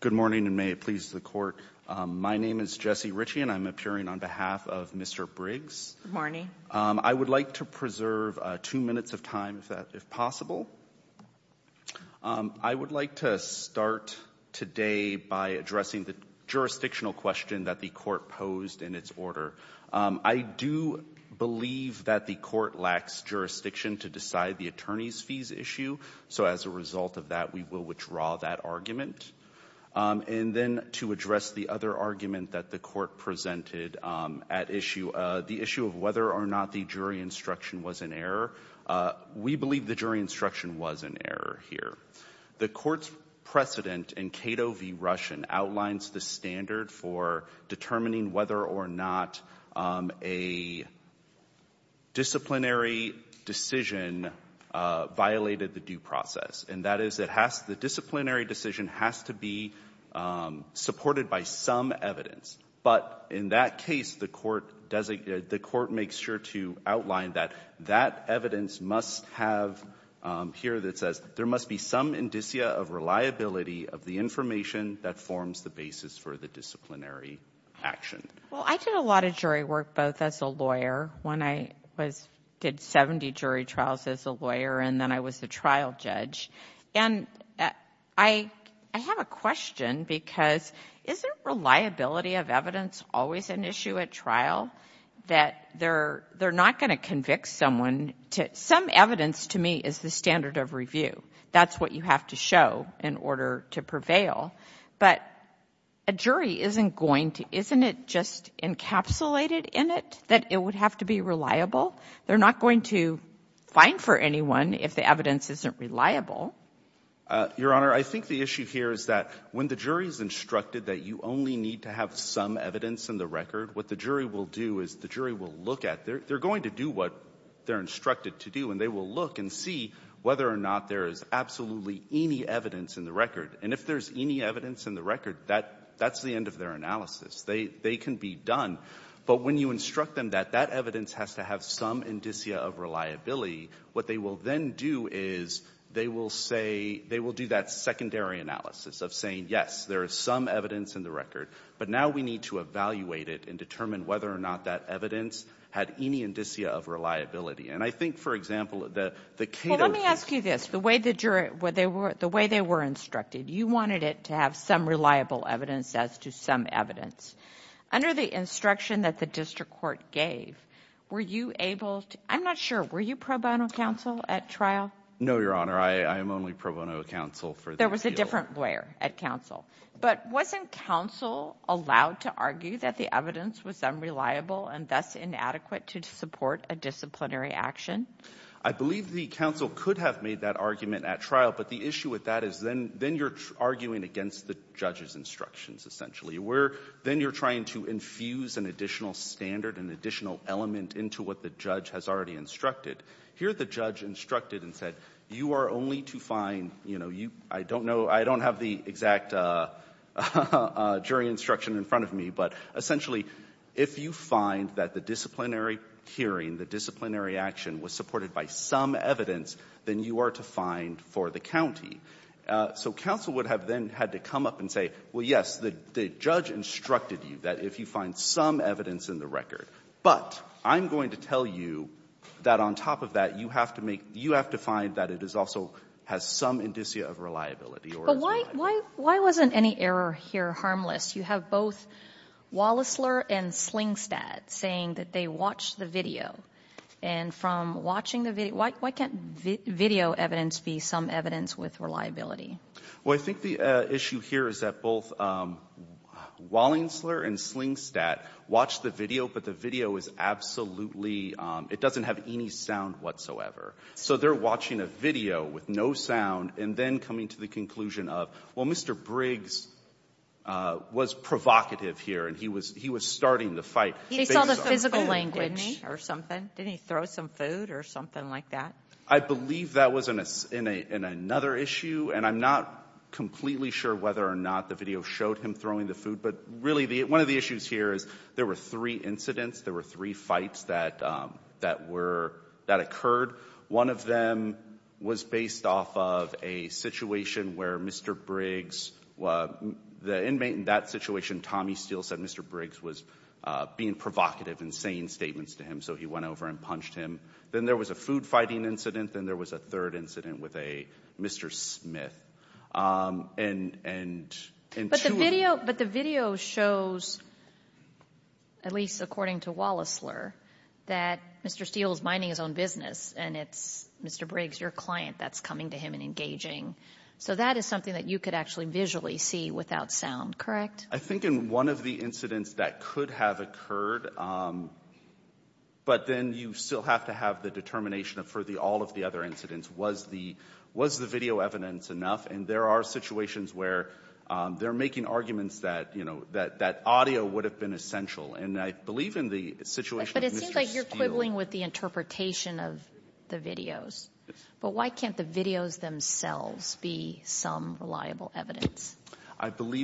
Good morning, and may it please the Court. My name is Jesse Ritchie, and I'm appearing on behalf of Mr. Briggs. Good morning. I would like to preserve two minutes of time, if possible. I would like to start today by addressing the jurisdictional question that the Court lacks jurisdiction to decide the attorney's fees issue. So as a result of that, we will withdraw that argument. And then to address the other argument that the Court presented at issue, the issue of whether or not the jury instruction was an error. We believe the jury instruction was an error here. The Court's precedent in Cato v. Russian outlines the standard for determining whether or not a disciplinary decision violated the due process, and that is it has to be supported by some evidence. But in that case, the Court makes sure to outline that that evidence must have here that says there must be some indicia of reliability of the information that forms the basis for the disciplinary action. Well, I did a lot of jury work both as a lawyer when I did 70 jury trials as a lawyer, and then I was a trial judge. And I have a question because isn't reliability of evidence always an issue at trial? That they're not going to convict someone to — some evidence, to me, is the standard of review. That's what you have to show in order to prevail. But a jury isn't going to — isn't it just encapsulated in it that it would have to be reliable? They're not going to fine for anyone if the evidence isn't reliable. Your Honor, I think the issue here is that when the jury is instructed that you only need to have some evidence in the record, what the jury will do is the jury will look at — they're going to do what they're instructed to do, and they will look and see whether or not there is absolutely any evidence in the record. And if there's any evidence in the record, that's the end of their analysis. They can be done. But when you instruct them that that evidence has to have some indicia of reliability, what they will then do is they will say — they will do that secondary analysis of saying, yes, there is some evidence in the record, but now we need to evaluate it and determine whether or not that evidence had any indicia of reliability. And I think, for example, the — Well, let me ask you this. The way the jury — the way they were instructed, you wanted it to have some reliable evidence as to some evidence. Under the instruction that the district court gave, were you able to — I'm not sure. Were you pro bono counsel at trial? No, Your Honor. I am only pro bono counsel for the appeal. There was a different lawyer at counsel. But wasn't counsel allowed to argue that the evidence was unreliable and thus inadequate to support a disciplinary action? I believe the counsel could have made that argument at trial. But the issue with that is then you're arguing against the judge's instructions, essentially, where then you're trying to infuse an additional standard, an additional element into what the judge has already instructed. Here the judge instructed and said, you are only to find — you know, essentially, if you find that the disciplinary hearing, the disciplinary action was supported by some evidence, then you are to find for the county. So counsel would have then had to come up and say, well, yes, the judge instructed you that if you find some evidence in the record, but I'm going to tell you that on top of that, you have to make — you have to find that it is also — has some indicia of reliability or is reliable. Kagan. Why wasn't any error here harmless? You have both Wallisler and Slingstad saying that they watched the video. And from watching the video — why can't video evidence be some evidence with reliability? Well, I think the issue here is that both Wallisler and Slingstad watched the video, but the video is absolutely — it doesn't have any sound whatsoever. So they're watching a video with no sound and then coming to the conclusion of, well, Mr. Briggs was provocative here, and he was — he was starting the fight. He saw the physical language, didn't he, or something? Didn't he throw some food or something like that? I believe that was in another issue, and I'm not completely sure whether or not the video showed him throwing the food. But really, one of the issues here is there were three incidents, there were three fights that were — that occurred. One of them was based off of a situation where Mr. Briggs — the inmate in that situation, Tommy Steele, said Mr. Briggs was being provocative and saying statements to him. So he went over and punched him. Then there was a food fighting incident. Then there was a third incident with a — Mr. Smith. And — But the video — but the video shows, at least according to Wallisler, that Mr. Steele is minding his own business, and it's Mr. Briggs, your client, that's coming to him and engaging. So that is something that you could actually visually see without sound, correct? I think in one of the incidents that could have occurred, but then you still have to have the determination of, for all of the other incidents, was the — was the video evidence enough? And there are situations where they're making arguments that, you know, that — that audio would have been essential. And I believe in the situation of Mr. Steele — I believe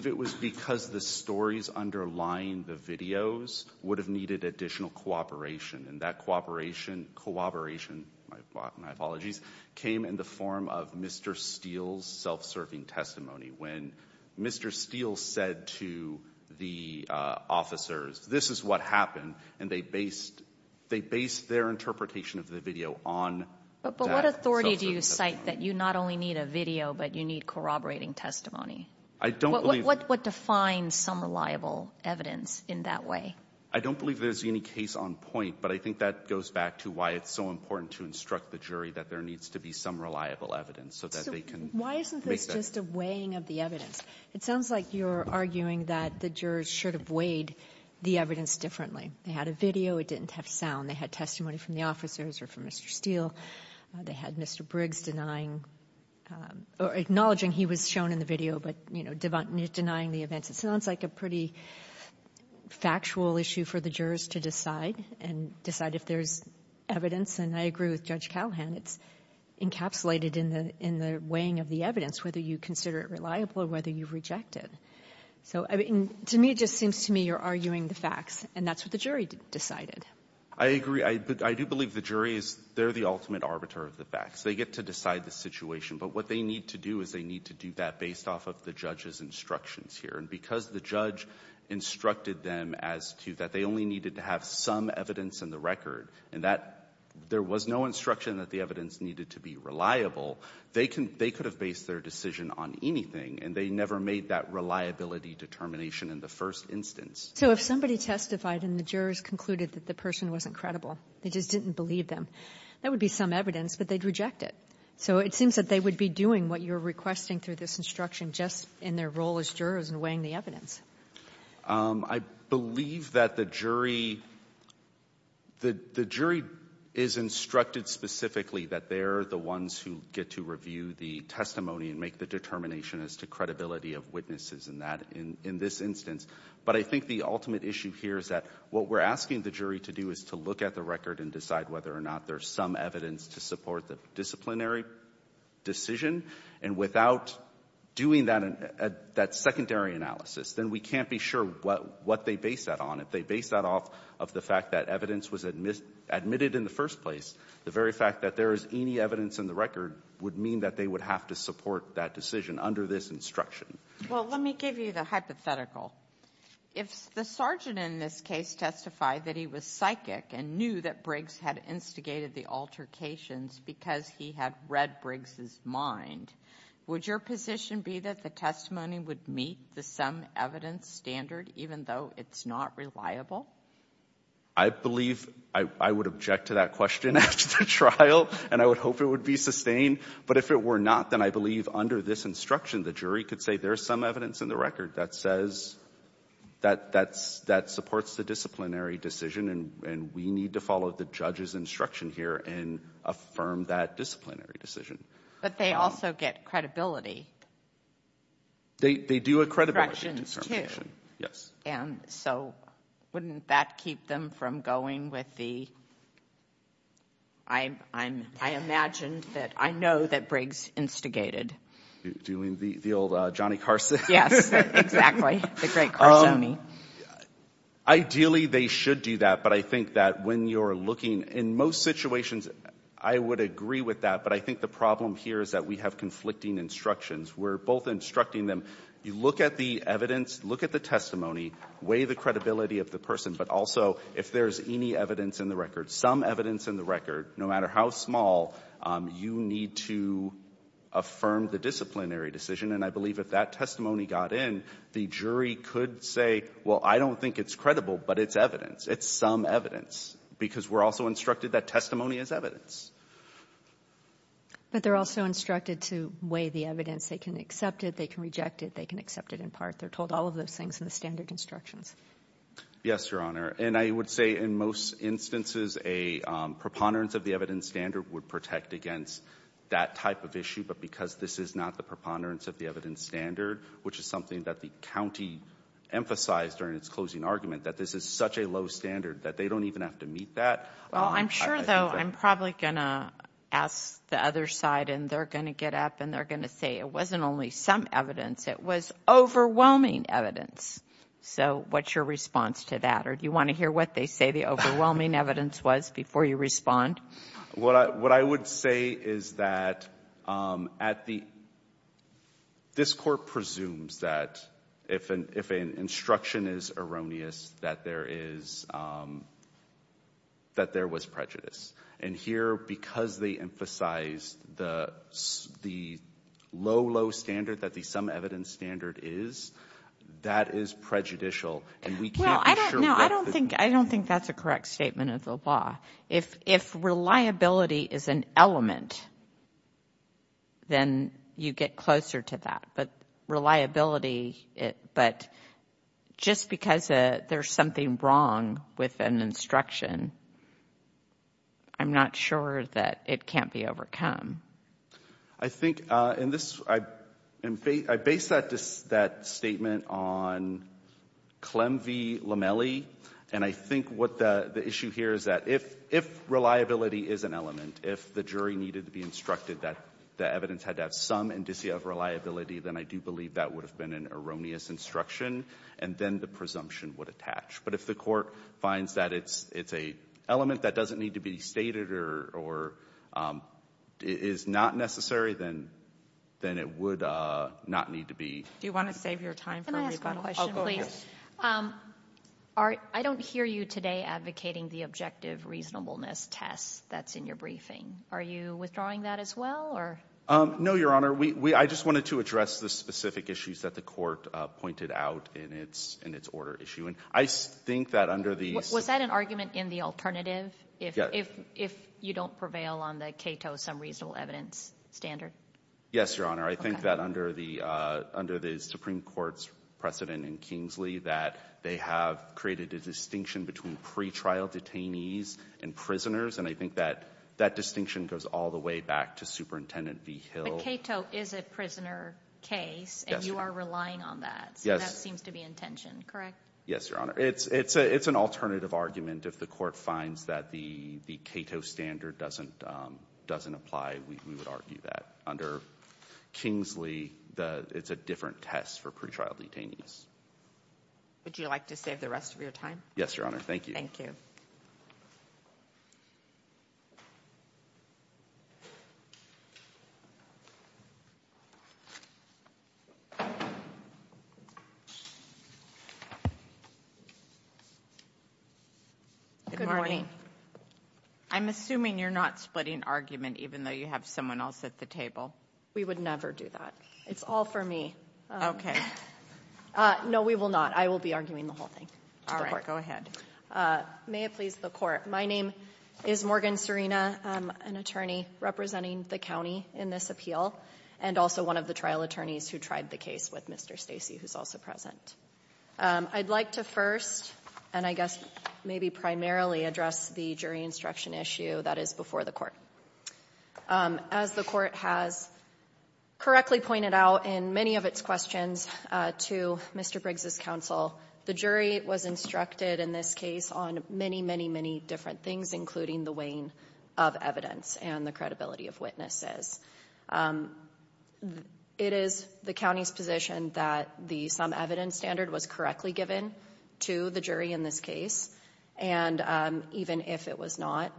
it was because the stories underlying the videos would have needed additional cooperation. And that cooperation — cooperation, my apologies, came in the form of Mr. Steele's self-serving testimony, when Mr. Steele said to the officers, this is what happened. And they based — they based their interpretation of the video on that self-serving But what authority do you cite that you not only need a video, but you need corroborating testimony? I don't believe — What defines some reliable evidence in that way? I don't believe there's any case on point, but I think that goes back to why it's so important to instruct the jury that there needs to be some reliable evidence so that they can make that — So why isn't this just a weighing of the evidence? It sounds like you're arguing that the jurors should have weighed the evidence differently. They had a video. It didn't have sound. They had testimony from the officers or from Mr. Steele. They had Mr. Briggs denying — or acknowledging he was shown in the video, but, you know, denying the events. It sounds like a pretty factual issue for the jurors to decide and decide if there's evidence. And I agree with Judge Callahan. It's encapsulated in the — in the weighing of the evidence, whether you consider it reliable or whether you reject it. So, I mean, to me, it just seems to me you're arguing the facts, and that's what the jury decided. I agree. I do believe the jury is — they're the ultimate arbiter of the facts. They get to decide the situation. But what they need to do is they need to do that based off of the judge's instructions here. And because the judge instructed them as to — that they only needed to have some evidence in the record and that there was no instruction that the evidence needed to be reliable, they could have based their decision on anything. And they never made that reliability determination in the first instance. So if somebody testified and the jurors concluded that the person wasn't credible, they just didn't believe them, that would be some evidence, but they'd reject it. So it seems that they would be doing what you're requesting through this instruction just in their role as jurors in weighing the evidence. I believe that the jury — the jury is instructed specifically that they're the ones who get to review the testimony and make the determination as to credibility of witnesses in that — in this instance. But I think the ultimate issue here is that what we're asking the jury to do is to look at the record and decide whether or not there's some evidence to support the disciplinary decision. And without doing that secondary analysis, then we can't be sure what they base that on. If they base that off of the fact that evidence was admitted in the first place, the very fact that there is any evidence in the record would mean that they would have to support that decision under this instruction. Well, let me give you the hypothetical. If the sergeant in this case testified that he was psychic and knew that Briggs had instigated the altercations because he had read Briggs's mind, would your position be that the testimony would meet the some-evidence standard, even though it's not reliable? I believe — I would object to that question after the trial, and I would hope it would be sustained. But if it were not, then I believe under this instruction, the jury could say there's some evidence in the record that says — that supports the disciplinary decision, and we need to follow the judge's instruction here and affirm that disciplinary decision. But they also get credibility. They do a credibility determination, yes. And so wouldn't that keep them from going with the — I imagine that — I know that Briggs instigated. Doing the old Johnny Carson? Yes, exactly. The great Carsonian. Ideally, they should do that. But I think that when you're looking — in most situations, I would agree with that. But I think the problem here is that we have conflicting instructions. We're both instructing them. You look at the evidence, look at the testimony, weigh the credibility of the person. But also, if there's any evidence in the record, some evidence in the record, no matter how small, you need to affirm the disciplinary decision. And I believe if that testimony got in, the jury could say, well, I don't think it's credible, but it's evidence. It's some evidence, because we're also instructed that testimony is evidence. But they're also instructed to weigh the evidence. They can accept it. They can reject it. They can accept it in part. They're told all of those things in the standard instructions. Yes, Your Honor. And I would say, in most instances, a preponderance of the evidence standard would protect against that type of issue. But because this is not the preponderance of the evidence standard, which is something that the county emphasized during its closing argument, that this is such a low standard that they don't even have to meet that — Well, I'm sure, though, I'm probably going to ask the other side, and they're going to get up, and they're going to say, it wasn't only some evidence, it was overwhelming evidence. So what's your response to that? Or do you want to hear what they say the overwhelming evidence was before you respond? What I would say is that at the — this Court presumes that if an instruction is erroneous, that there is — that there was prejudice. And here, because they emphasize the low, low standard that the some evidence standard is, that is prejudicial. And we can't be sure what — Well, I don't — no, I don't think — I don't think that's a correct statement of the law. If reliability is an element, then you get closer to that. But reliability — but just because there's something wrong with an instruction, I'm not sure that it can't be overcome. I think in this — I base that statement on Clem v. Lamelli. And I think what the issue here is that if reliability is an element, if the jury needed to be instructed that the evidence had to have some indicia of reliability, then I do believe that would have been an erroneous instruction, and then the presumption would attach. But if the Court finds that it's — it's an element that doesn't need to be stated or is not necessary, then it would not need to be. Do you want to save your time for a rebuttal? Can I ask a question, please? Oh, go ahead. I don't hear you today advocating the objective reasonableness test that's in your briefing. Are you withdrawing that as well, or — No, Your Honor. We — I just wanted to address the specific issues that the Court pointed out in its order issue. And I think that under the — Was that an argument in the alternative, if you don't prevail on the Cato some reasonable evidence standard? Yes, Your Honor. Okay. I think that under the — under the Supreme Court's precedent in Kingsley that they have created a distinction between pretrial detainees and prisoners, and I think that distinction goes all the way back to Superintendent V. Hill. But Cato is a prisoner case, and you are relying on that. Yes. So that seems to be intention, correct? Yes, Your Honor. It's an alternative argument. If the Court finds that the Cato standard doesn't apply, we would argue that. Under Kingsley, it's a different test for pretrial detainees. Would you like to save the rest of your time? Yes, Your Honor. Thank you. Thank you. Good morning. I'm assuming you're not splitting argument even though you have someone else at the table. We would never do that. It's all for me. Okay. No we will not. I will be arguing the whole thing. All right. Go ahead. May it please the Court. My name is Morgan Serena. I'm an attorney representing the county in this appeal and also one of the trial attorneys who tried the case with Mr. Stacey, who's also present. I'd like to first, and I guess maybe primarily, address the jury instruction issue that is before the Court. As the Court has correctly pointed out in many of its questions to Mr. Briggs' counsel, the jury was instructed in this case on many, many, many different things, including the weighing of evidence and the credibility of witnesses. It is the county's position that the some evidence standard was correctly given to the jury in this case, and even if it was not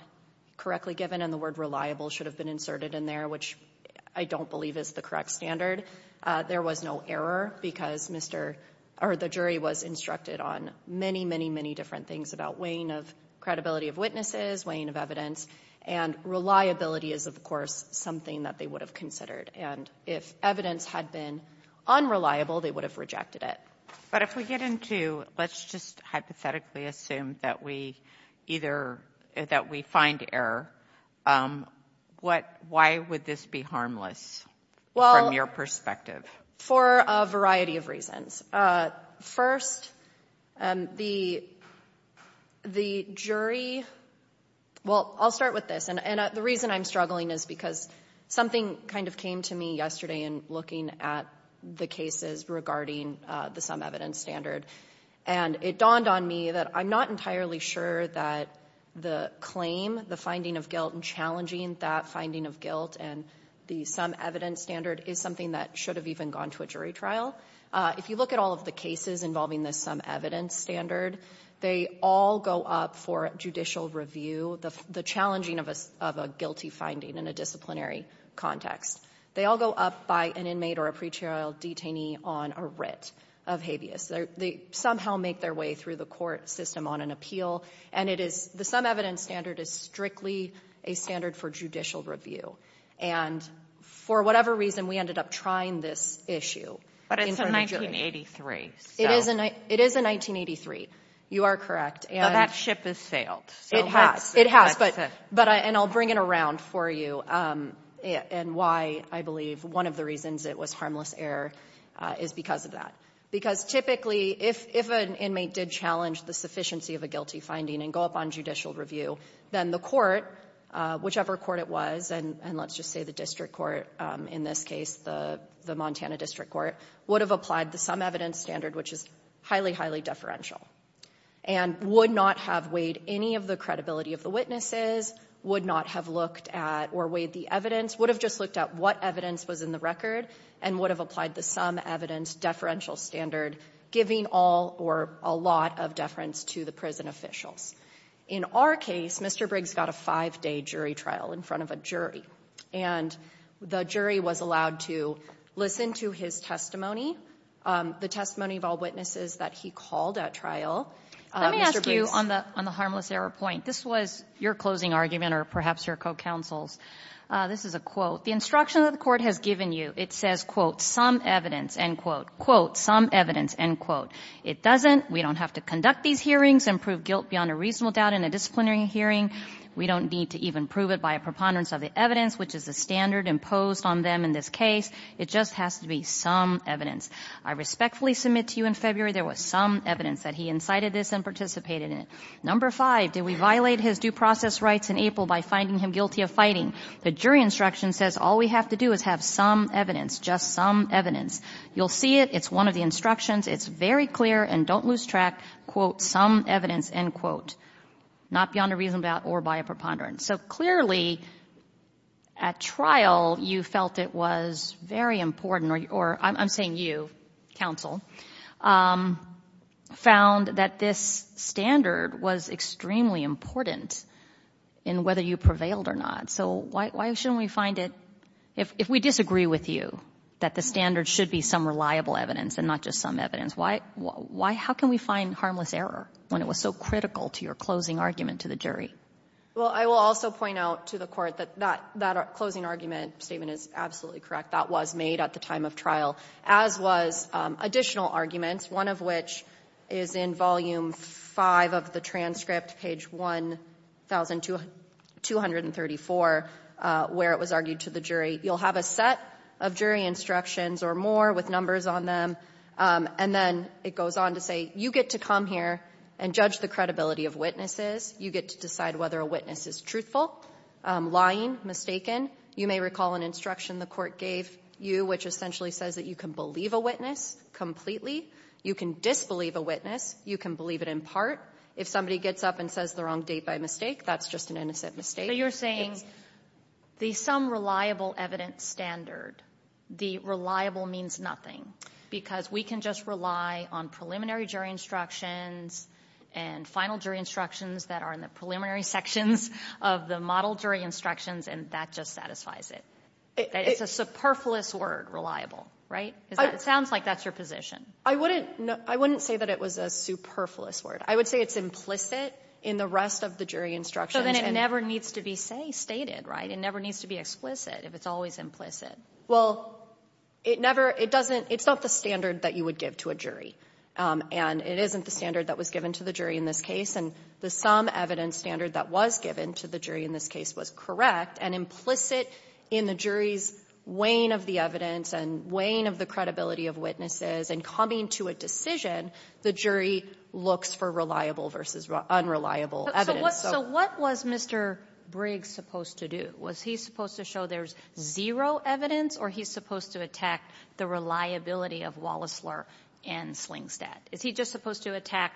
correctly given and the word reliable should have been inserted in there, which I don't believe is the correct standard, there was no error because the jury was instructed on many, many, many different things about weighing of credibility of witnesses, weighing of evidence, and reliability is of course something that they would have considered, and if evidence had been unreliable they would have rejected it. But if we get into, let's just hypothetically assume that we either, that we find error, why would this be harmless from your perspective? For a variety of reasons. First, the jury, well, I'll start with this, and the reason I'm struggling is because something kind of came to me yesterday in looking at the cases regarding the some evidence standard, and it dawned on me that I'm not entirely sure that the claim, the finding of guilt and challenging that finding of guilt and the some evidence standard is something that should have even gone to a jury trial. If you look at all of the cases involving the some evidence standard, they all go up for judicial review, the challenging of a guilty finding in a disciplinary context. They all go up by an inmate or a pretrial detainee on a writ of habeas. They somehow make their way through the court system on an appeal, and it is, the some evidence standard is strictly a standard for judicial review. And for whatever reason, we ended up trying this issue in front of a jury. But it's a 1983, so. It is a 1983. You are correct. But that ship has sailed. It has. It has, but, and I'll bring it around for you, and why I believe one of the reasons it was harmless error is because of that. Because typically, if an inmate did challenge the sufficiency of a guilty finding and go up on judicial review, then the court, whichever court it was, and let's just say the district court in this case, the Montana district court, would have applied the some evidence standard, which is highly, highly deferential. And would not have weighed any of the credibility of the witnesses, would not have looked at or weighed the evidence, would have just looked at what evidence was in the record, and would have applied the some evidence deferential standard, giving all or a lot of deference to the prison officials. In our case, Mr. Briggs got a five-day jury trial in front of a jury. And the jury was allowed to listen to his testimony, the testimony of all witnesses that he called at trial. Mr. Briggs ---- Let me ask you on the harmless error point. This was your closing argument or perhaps your co-counsel's. This is a quote. The instruction that the court has given you, it says, quote, some evidence, end quote, quote, some evidence, end quote. It doesn't. We don't have to conduct these hearings and prove guilt beyond a reasonable doubt in a disciplinary hearing. We don't need to even prove it by a preponderance of the evidence, which is the standard imposed on them in this case. It just has to be some evidence. I respectfully submit to you in February there was some evidence that he incited this and participated in it. Number five, did we violate his due process rights in April by finding him guilty of fighting? The jury instruction says all we have to do is have some evidence, just some evidence. You'll see it. It's one of the instructions. It's very clear and don't lose track, quote, some evidence, end quote, not beyond a reasonable doubt or by a preponderance. So clearly at trial you felt it was very important or I'm saying you, counsel, found that this standard was extremely important in whether you prevailed or not. So why shouldn't we find it, if we disagree with you, that the standard should be some reliable evidence and not just some evidence? Why how can we find harmless error when it was so critical to your closing argument to the jury? Well, I will also point out to the Court that that closing argument statement is absolutely correct. That was made at the time of trial, as was additional arguments, one of which is in Volume V of the transcript, page 1234, where it was argued to the jury. You'll have a set of jury instructions or more with numbers on them, and then it goes on to say, you get to come here and judge the credibility of witnesses. You get to decide whether a witness is truthful, lying, mistaken. You may recall an instruction the Court gave you, which essentially says that you can believe a witness completely. You can disbelieve a witness. You can believe it in part. If somebody gets up and says the wrong date by mistake, that's just an innocent mistake. So you're saying the some-reliable-evidence standard, the reliable means nothing, because we can just rely on preliminary jury instructions and final jury instructions that are in the preliminary sections of the model jury instructions, and that just satisfies it. It's a superfluous word, reliable, right? It sounds like that's your position. I wouldn't say that it was a superfluous word. I would say it's implicit in the rest of the jury instructions. So then it never needs to be stated, right? It never needs to be explicit if it's always implicit. Well, it never — it doesn't — it's not the standard that you would give to a jury. And it isn't the standard that was given to the jury in this case. And the some-evidence standard that was given to the jury in this case was correct. And implicit in the jury's weighing of the evidence and weighing of the credibility of witnesses and coming to a decision, the jury looks for reliable versus unreliable evidence. So what was Mr. Briggs supposed to do? Was he supposed to show there's zero evidence, or he's supposed to attack the reliability of Wallisler and Slingstadt? Is he just supposed to attack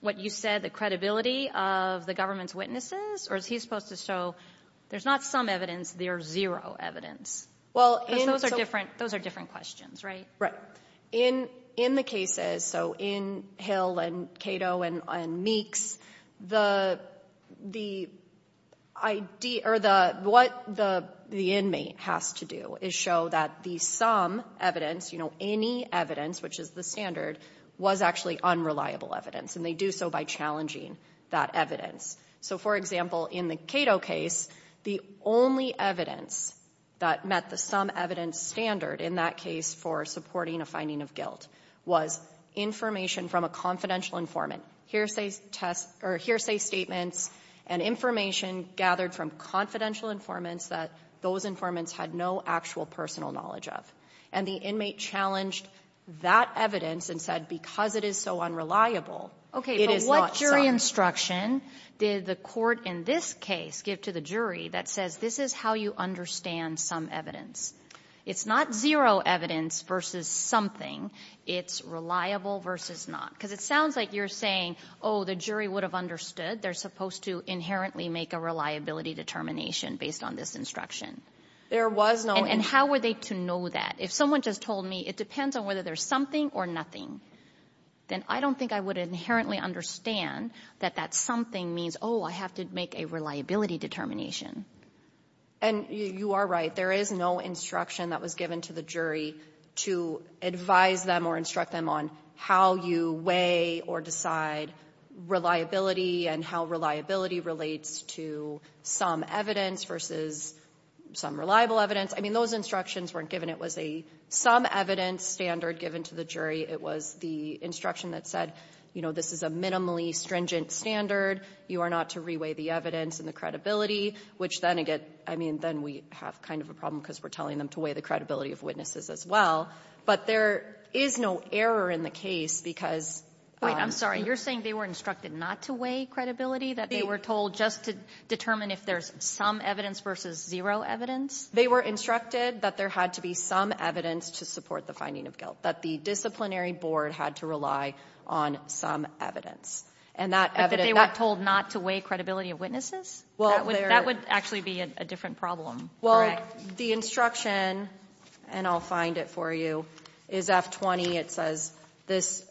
what you said, the credibility of the government's witnesses, or is he supposed to show there's not some evidence, there's zero evidence? Because those are different questions, right? Right. In — in the cases, so in Hill and Cato and Meeks, the — the idea — or the — what the — the inmate has to do is show that the some evidence, you know, any evidence, which is the standard, was actually unreliable evidence. And they do so by challenging that evidence. So, for example, in the Cato case, the only evidence that met the some-evidence standard in that case for supporting a finding of guilt was information from a confidential informant, hearsay test — or hearsay statements and information gathered from confidential informants that those informants had no actual personal knowledge of. And the inmate challenged that evidence and said, because it is so unreliable, it is not some. But what jury instruction did the court in this case give to the jury that says, this is how you understand some evidence? It's not zero evidence versus something. It's reliable versus not. Because it sounds like you're saying, oh, the jury would have understood. They're supposed to inherently make a reliability determination based on this instruction. There was no — And how were they to know that? If someone just told me, it depends on whether there's something or nothing, then I don't think I would inherently understand that that something means, oh, I have to make a reliability determination. And you are right. There is no instruction that was given to the jury to advise them or instruct them on how you weigh or decide reliability and how reliability relates to some evidence versus some reliable evidence. I mean, those instructions weren't given. It was a some evidence standard given to the jury. It was the instruction that said, you know, this is a minimally stringent standard. You are not to reweigh the evidence and the credibility, which then again — I mean, then we have kind of a problem because we're telling them to weigh the credibility of witnesses as well. But there is no error in the case because — Wait, I'm sorry. You're saying they were instructed not to weigh credibility, that they were told just to determine if there's some evidence versus zero evidence? They were instructed that there had to be some evidence to support the finding of guilt, that the disciplinary board had to rely on some evidence. And that evidence — But that they were told not to weigh credibility of witnesses? That would actually be a different problem, correct? Well, the instruction, and I'll find it for you, is F-20. It says, this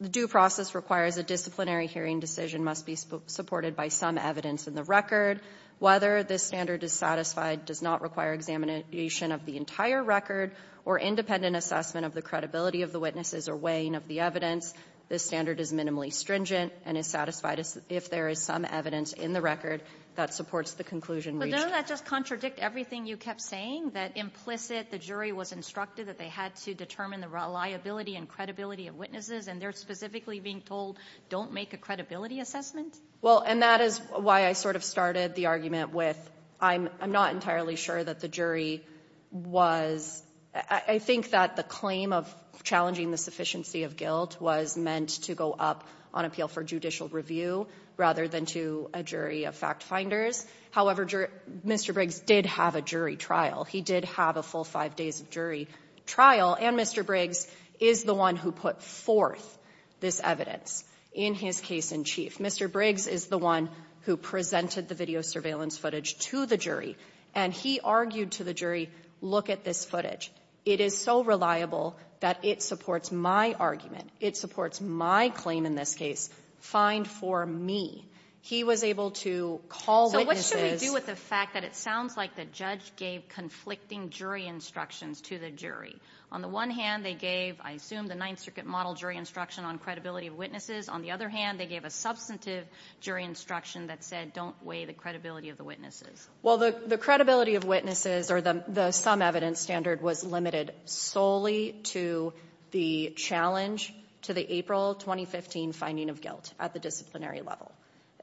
due process requires a disciplinary hearing decision must be supported by some evidence in the record. Whether this standard is satisfied does not require examination of the entire record or independent assessment of the credibility of the witnesses or weighing of the evidence. This standard is minimally stringent and is satisfied if there is some evidence in the record that supports the conclusion reached. But doesn't that just contradict everything you kept saying, that implicit, the jury was instructed that they had to determine the reliability and credibility of witnesses, and they're specifically being told, don't make a credibility assessment? Well, and that is why I sort of started the argument with, I'm not entirely sure that the jury was — I think that the claim of challenging the sufficiency of guilt was meant to go up on appeal for judicial review rather than to a jury of fact-finders. However, Mr. Briggs did have a jury trial. He did have a full five days of jury trial. And Mr. Briggs is the one who put forth this evidence in his case-in-chief. Mr. Briggs is the one who presented the video surveillance footage to the jury. And he argued to the jury, look at this footage. It is so reliable that it supports my argument. It supports my claim in this case. Fine for me. He was able to call witnesses — So what should we do with the fact that it sounds like the judge gave conflicting jury instructions to the jury? On the one hand, they gave, I assume, the Ninth Circuit model jury instruction on credibility of witnesses. On the other hand, they gave a substantive jury instruction that said, don't weigh the credibility of the witnesses. Well, the credibility of witnesses, or the sum evidence standard, was limited solely to the challenge to the April 2015 finding of guilt at the disciplinary level.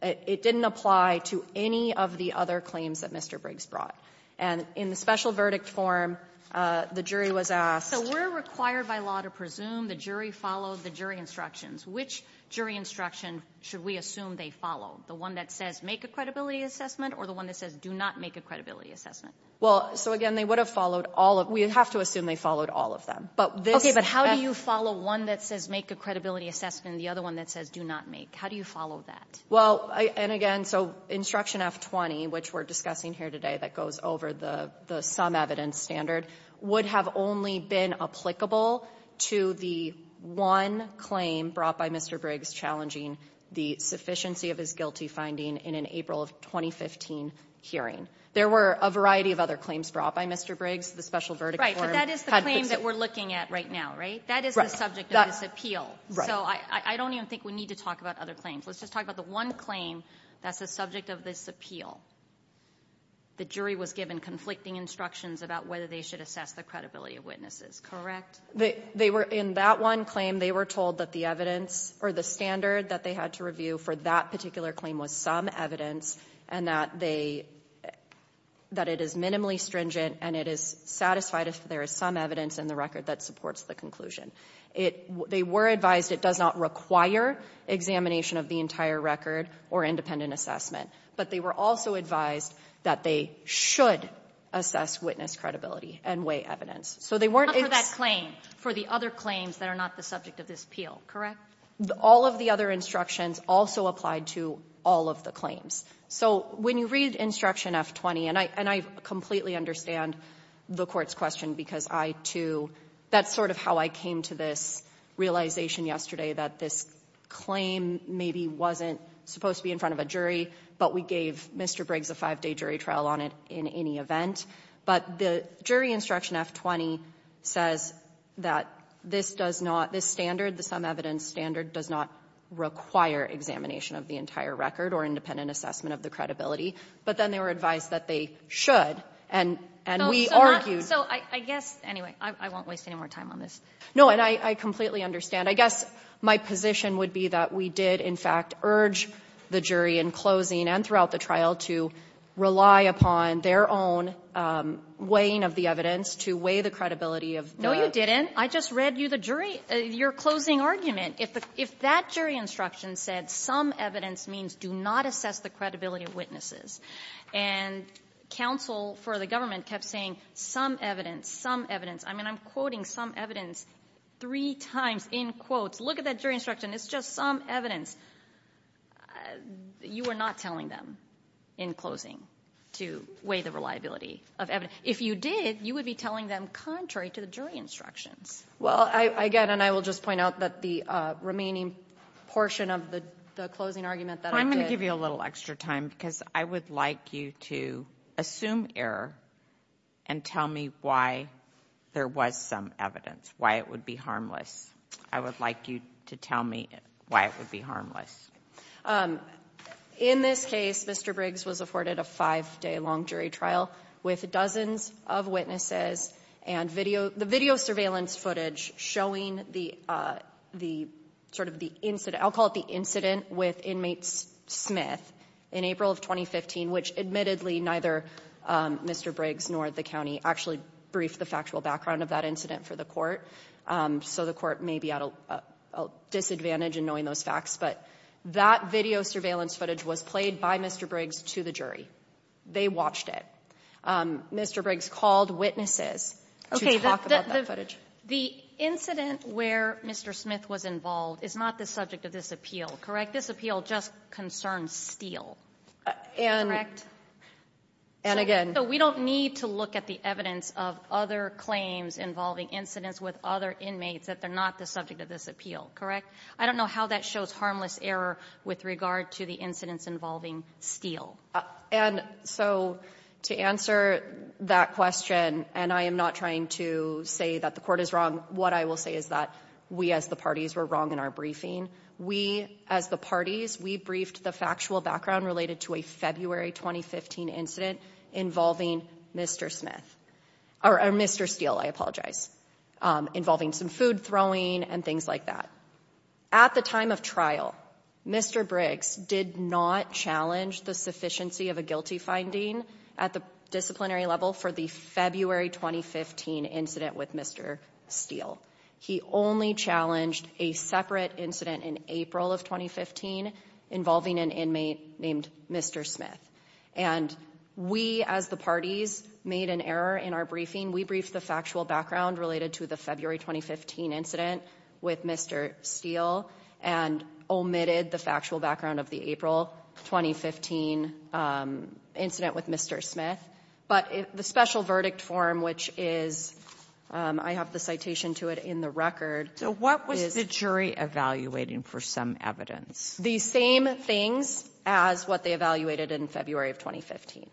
It didn't apply to any of the other claims that Mr. Briggs brought. And in the special verdict form, the jury was asked — So we're required by law to presume the jury followed the jury instructions. Which jury instruction should we assume they followed? The one that says make a credibility assessment, or the one that says do not make a credibility assessment? Well, so again, they would have followed all of — we have to assume they followed all of them. But this — Okay. But how do you follow one that says make a credibility assessment and the other one that says do not make? How do you follow that? Well, and again, so Instruction F-20, which we're discussing here today that goes over the sum evidence standard, would have only been applicable to the one claim brought by Mr. Briggs challenging the sufficiency of his guilty finding in an April of 2015 hearing. There were a variety of other claims brought by Mr. Briggs. The special verdict form had — But that is the claim that we're looking at right now, right? That is the subject of this appeal. Right. So I don't even think we need to talk about other claims. Let's just talk about the one claim that's the subject of this appeal. The jury was given conflicting instructions about whether they should assess the credibility of witnesses, correct? They were — in that one claim, they were told that the evidence or the standard that they had to review for that particular claim was some evidence and that they — that it is minimally stringent and it is satisfied if there is some evidence in the record that supports the conclusion. It — they were advised it does not require examination of the entire record or independent assessment, but they were also advised that they should assess witness credibility and weigh evidence. So they weren't — Not for that claim, for the other claims that are not the subject of this appeal, correct? All of the other instructions also applied to all of the claims. So when you read Instruction F-20 — and I — and I completely understand the Court's question because I, too — that's sort of how I came to this realization yesterday that this claim maybe wasn't supposed to be in front of a jury, but we gave Mr. Briggs a five-day jury trial on it in any event. But the jury Instruction F-20 says that this does not — this standard, the some evidence standard, does not require examination of the entire record or independent assessment of the credibility, but then they were advised that they should, and — and we argued — So I guess — anyway, I won't waste any more time on this. No, and I — I completely understand. I guess my position would be that we did, in fact, urge the jury in closing and throughout the trial to rely upon their own weighing of the evidence to weigh the credibility of the — No, you didn't. I just read you the jury — your closing argument. If the — if that jury instruction said some evidence means do not assess the credibility of witnesses, and counsel for the government kept saying some evidence, some evidence — I mean, I'm quoting some evidence three times in quotes. Look at that jury instruction. It's just some evidence. You were not telling them in closing to weigh the reliability of evidence. If you did, you would be telling them contrary to the jury instructions. Well, I — I get it, and I will just point out that the remaining portion of the — the closing argument that I did — I'm going to give you a little extra time, because I would like you to assume error and tell me why there was some evidence, why it would be harmless. I would like you to tell me why it would be harmless. In this case, Mr. Briggs was afforded a five-day-long jury trial with dozens of witnesses and video — the video surveillance footage showing the — the sort of the incident — I'll call it the incident with inmate Smith in April of 2015, which admittedly, neither Mr. Briggs nor the county actually briefed the factual background of that incident for the court, so the court may be at a disadvantage in knowing those facts. But that video surveillance footage was played by Mr. Briggs to the jury. They watched it. Mr. Briggs called witnesses to talk about that footage. The incident where Mr. Smith was involved is not the subject of this appeal, correct? This appeal just concerns Steele, correct? And again — So we don't need to look at the evidence of other claims involving incidents with other inmates that they're not the subject of this appeal, correct? I don't know how that shows harmless error with regard to the incidents involving Steele. And so to answer that question, and I am not trying to say that the court is wrong, what I will say is that we, as the parties, were wrong in our briefing. We, as the parties, we briefed the factual background related to a February 2015 incident involving Mr. Smith — or Mr. Steele, I apologize — involving some food throwing and things like that. At the time of trial, Mr. Briggs did not challenge the sufficiency of a guilty finding at the disciplinary level for the February 2015 incident with Mr. Steele. He only challenged a separate incident in April of 2015 involving an inmate named Mr. Smith. And we, as the parties, made an error in our briefing. We briefed the factual background related to the February 2015 incident with Mr. Steele and omitted the factual background of the April 2015 incident with Mr. Smith. But the special verdict form, which is — I have the citation to it in the record. So what was the jury evaluating for some evidence? The same things as what they evaluated in February of 2015.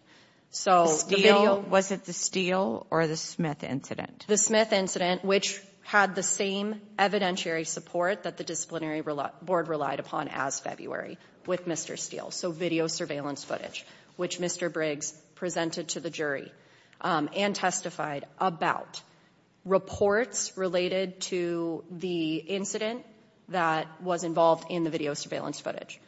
So — The Steele — was it the Steele or the Smith incident? The Smith incident, which had the same evidentiary support that the disciplinary board relied upon as February with Mr. Steele. So video surveillance footage, which Mr. Briggs presented to the jury and testified about. Reports related to the incident that was involved in the video surveillance footage.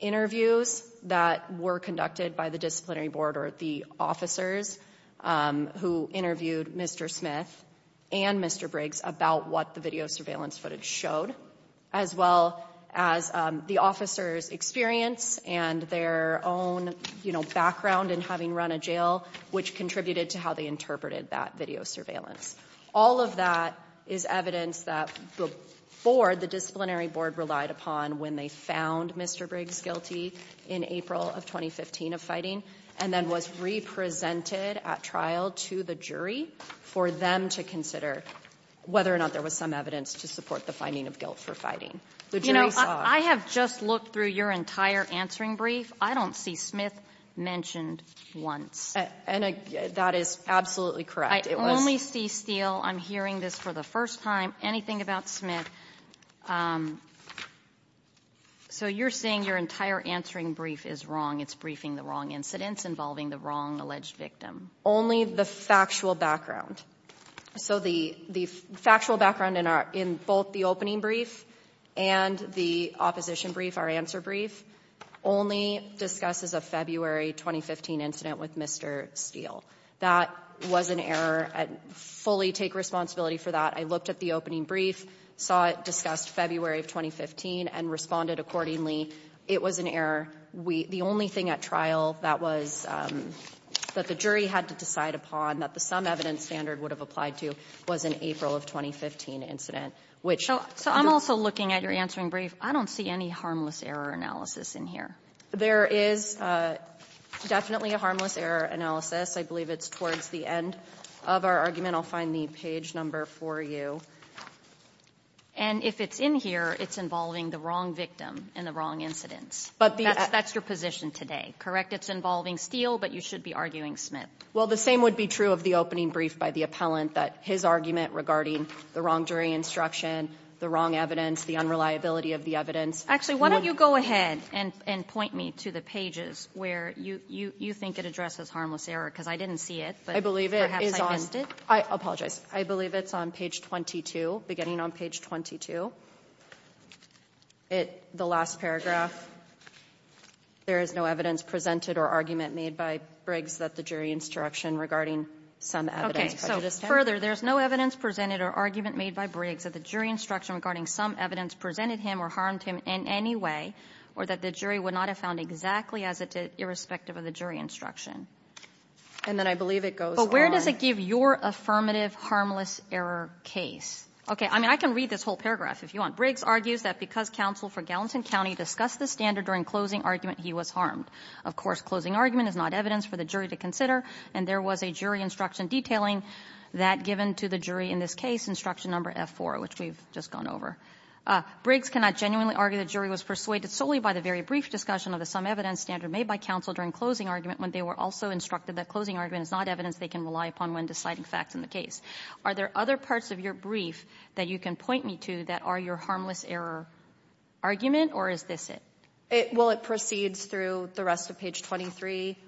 Interviews that were conducted by the disciplinary board or the officers who interviewed Mr. Smith and Mr. Briggs about what the video surveillance footage showed, as well as the officers' experience and their own, you know, background in having run a jail, which contributed to how they interpreted that video surveillance. All of that is evidence that before the disciplinary board relied upon when they found Mr. Briggs guilty in April of 2015 of fighting, and then was represented at trial to the jury for them to consider whether or not there was some evidence to support the finding of guilt for fighting. The jury saw — I have just looked through your entire answering brief. I don't see Smith mentioned once. And that is absolutely correct. I only see Steele. I'm hearing this for the first time. Anything about Smith? So you're saying your entire answering brief is wrong? It's briefing the wrong incidents involving the wrong alleged victim? Only the factual background. So the factual background in both the opening brief and the opposition brief, our answer brief, only discusses a February 2015 incident with Mr. Steele. That was an error. I fully take responsibility for that. I looked at the opening brief, saw it discussed February of 2015, and responded accordingly. It was an error. We — the only thing at trial that was — that the jury had to decide upon, that the some evidence standard would have applied to, was an April of 2015 incident, which — So I'm also looking at your answering brief. I don't see any harmless error analysis in here. There is definitely a harmless error analysis. I believe it's towards the end of our argument. I'll find the page number for you. And if it's in here, it's involving the wrong victim and the wrong incidents. But the — That's your position today, correct? It's involving Steele, but you should be arguing Smith. Well, the same would be true of the opening brief by the appellant, that his argument regarding the wrong jury instruction, the wrong evidence, the unreliability of the evidence — Actually, why don't you go ahead and point me to the pages where you think it addresses harmless error? Because I didn't see it, but perhaps I missed it. I apologize. I believe it's on page 22, beginning on page 22. The last paragraph, there is no evidence presented or argument made by Briggs that the jury instruction regarding some evidence — Okay. So further, there's no evidence presented or argument made by Briggs that the jury instruction regarding some evidence presented him or harmed him in any way, or that the jury would not have found exactly as it did, irrespective of the jury instruction. And then I believe it goes on — Affirmative harmless error case. I mean, I can read this whole paragraph if you want. Briggs argues that because counsel for Gallatin County discussed the standard during closing argument, he was harmed. Of course, closing argument is not evidence for the jury to consider, and there was a jury instruction detailing that given to the jury in this case, instruction number F-4, which we've just gone over. Briggs cannot genuinely argue the jury was persuaded solely by the very brief discussion of the some evidence standard made by counsel during closing argument when they were also instructed that closing argument is not evidence they can rely upon when deciding facts in the case. Are there other parts of your brief that you can point me to that are your harmless error argument, or is this it? Well, it proceeds through the rest of page 23,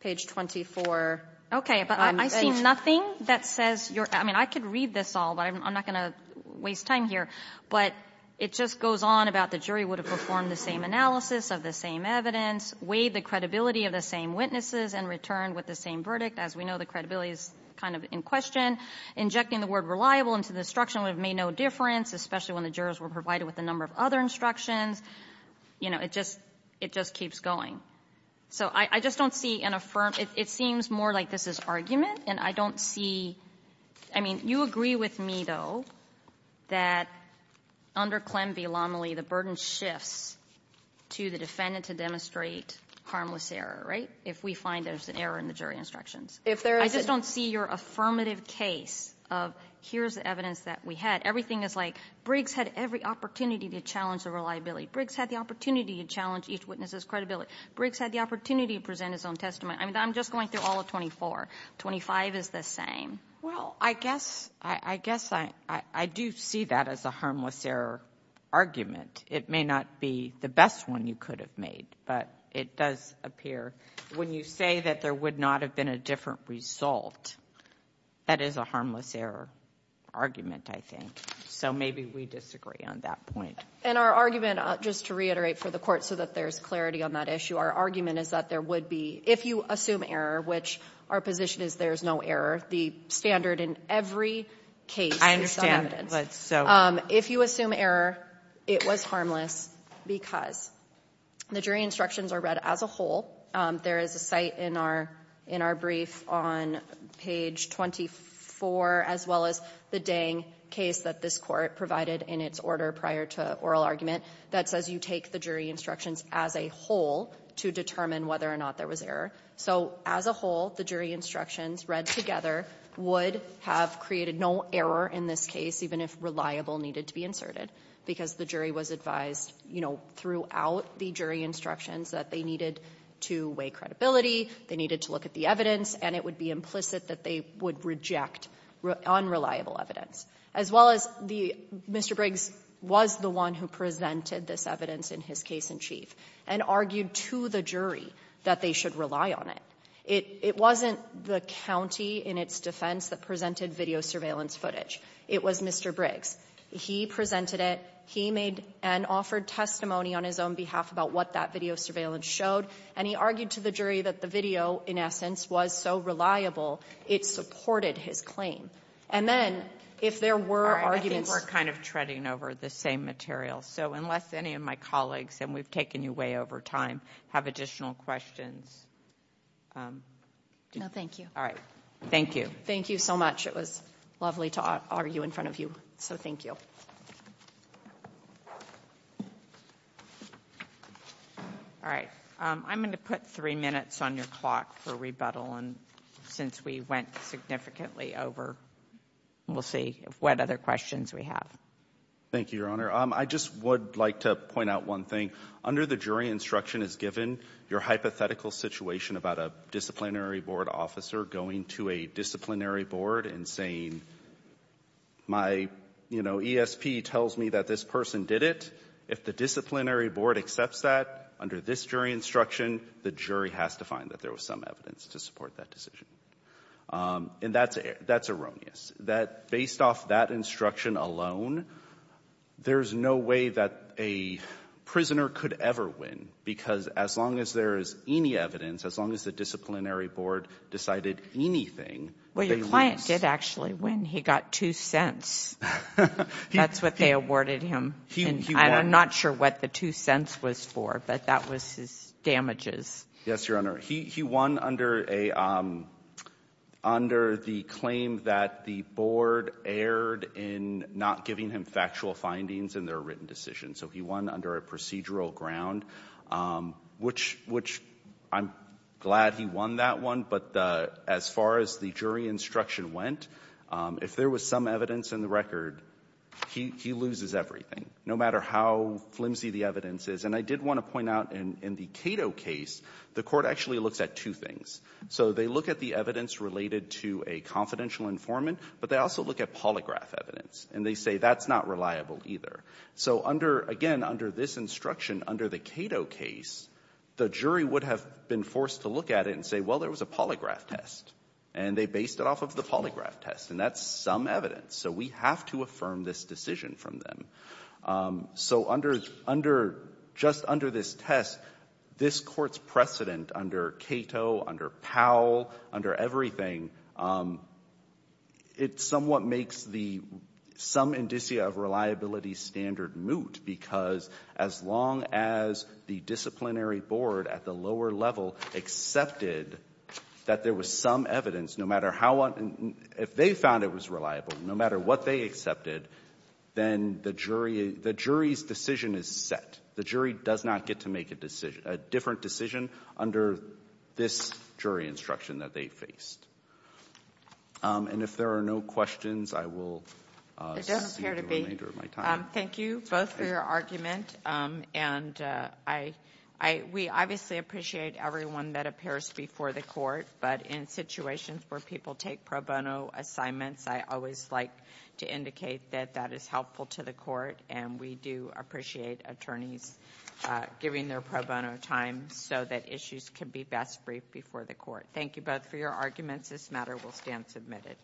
page 24. Okay. But I see nothing that says you're — I mean, I could read this all, but I'm not going to waste time here. But it just goes on about the jury would have performed the same analysis of the same evidence, weighed the credibility of the same witnesses, and returned with the same verdict. As we know, the credibility is kind of in question. Injecting the word reliable into the instruction would have made no difference, especially when the jurors were provided with a number of other instructions. You know, it just — it just keeps going. So I just don't see an affirmative — it seems more like this is argument, and I don't see — I mean, you agree with me, though, that under Clem v. Lomely, the burden shifts to the defendant to demonstrate harmless error, right, if we find there's an error in the jury instructions. If there is — I just don't see your affirmative case of here's the evidence that we had. Everything is like Briggs had every opportunity to challenge the reliability. Briggs had the opportunity to challenge each witness's credibility. Briggs had the opportunity to present his own testimony. I mean, I'm just going through all of 24. 25 is the same. Well, I guess — I guess I — I do see that as a harmless error argument. It may not be the best one you could have made, but it does appear when you say that there would not have been a different result, that is a harmless error argument, I think. So maybe we disagree on that point. And our argument, just to reiterate for the Court so that there's clarity on that issue, our argument is that there would be — if you assume error, which our position is there's no error, the standard in every case is some evidence. But so — If you assume error, it was harmless because the jury instructions are read as a whole. There is a site in our — in our brief on page 24, as well as the Dang case that this Court provided in its order prior to oral argument, that says you take the jury instructions as a whole to determine whether or not there was error. So as a whole, the jury instructions read together would have created no error in this case, even if reliable needed to be inserted, because the jury was advised, you know, throughout the jury instructions that they needed to weigh credibility, they needed to look at the evidence, and it would be implicit that they would reject unreliable evidence, as well as the — Mr. Briggs was the one who presented this evidence in his case in chief and argued to the jury that they should rely on it. It wasn't the county in its defense that presented video surveillance footage. It was Mr. Briggs. He presented it. He made and offered testimony on his own behalf about what that video surveillance showed, and he argued to the jury that the video, in essence, was so reliable, it supported his claim. And then, if there were arguments — I think we're kind of treading over the same material. So unless any of my colleagues — and we've taken you way over time — have additional questions. No, thank you. All right. Thank you. Thank you so much. It was lovely to argue in front of you. So thank you. All right. I'm going to put three minutes on your clock for rebuttal, and since we went significantly over, we'll see what other questions we have. Thank you, Your Honor. I just would like to point out one thing. Under the jury instruction, as given your hypothetical situation about a disciplinary board and saying, my, you know, ESP tells me that this person did it, if the disciplinary board accepts that under this jury instruction, the jury has to find that there was some evidence to support that decision. And that's — that's erroneous, that based off that instruction alone, there is no way that a prisoner could ever win, because as long as there is any evidence, as long as the disciplinary board decided anything — Well, your client did actually win. He got two cents. That's what they awarded him. I'm not sure what the two cents was for, but that was his damages. Yes, Your Honor. He won under a — under the claim that the board erred in not giving him factual findings in their written decision. So he won under a procedural ground, which — which I'm glad he won that one. But as far as the jury instruction went, if there was some evidence in the record, he — he loses everything, no matter how flimsy the evidence is. And I did want to point out in the Cato case, the Court actually looks at two things. So they look at the evidence related to a confidential informant, but they also look at polygraph evidence, and they say that's not reliable either. So under — again, under this instruction, under the Cato case, the jury would have been forced to look at it and say, well, there was a polygraph test. And they based it off of the polygraph test. And that's some evidence. So we have to affirm this decision from them. So under — under — just under this test, this Court's precedent under Cato, under Powell, under everything, it somewhat makes the — some indicia of reliability standard moot, because as long as the disciplinary board at the lower level accepted that there was some evidence, no matter how — if they found it was reliable, no matter what they accepted, then the jury — the jury's decision is set. The jury does not get to make a decision — a different decision under this jury instruction that they faced. And if there are no questions, I will — Thank you both for your argument. And I — we obviously appreciate everyone that appears before the Court. But in situations where people take pro bono assignments, I always like to indicate that that is helpful to the Court. And we do appreciate attorneys giving their pro bono time so that issues can be best briefed before the Court. Thank you both for your arguments. This matter will stand submitted.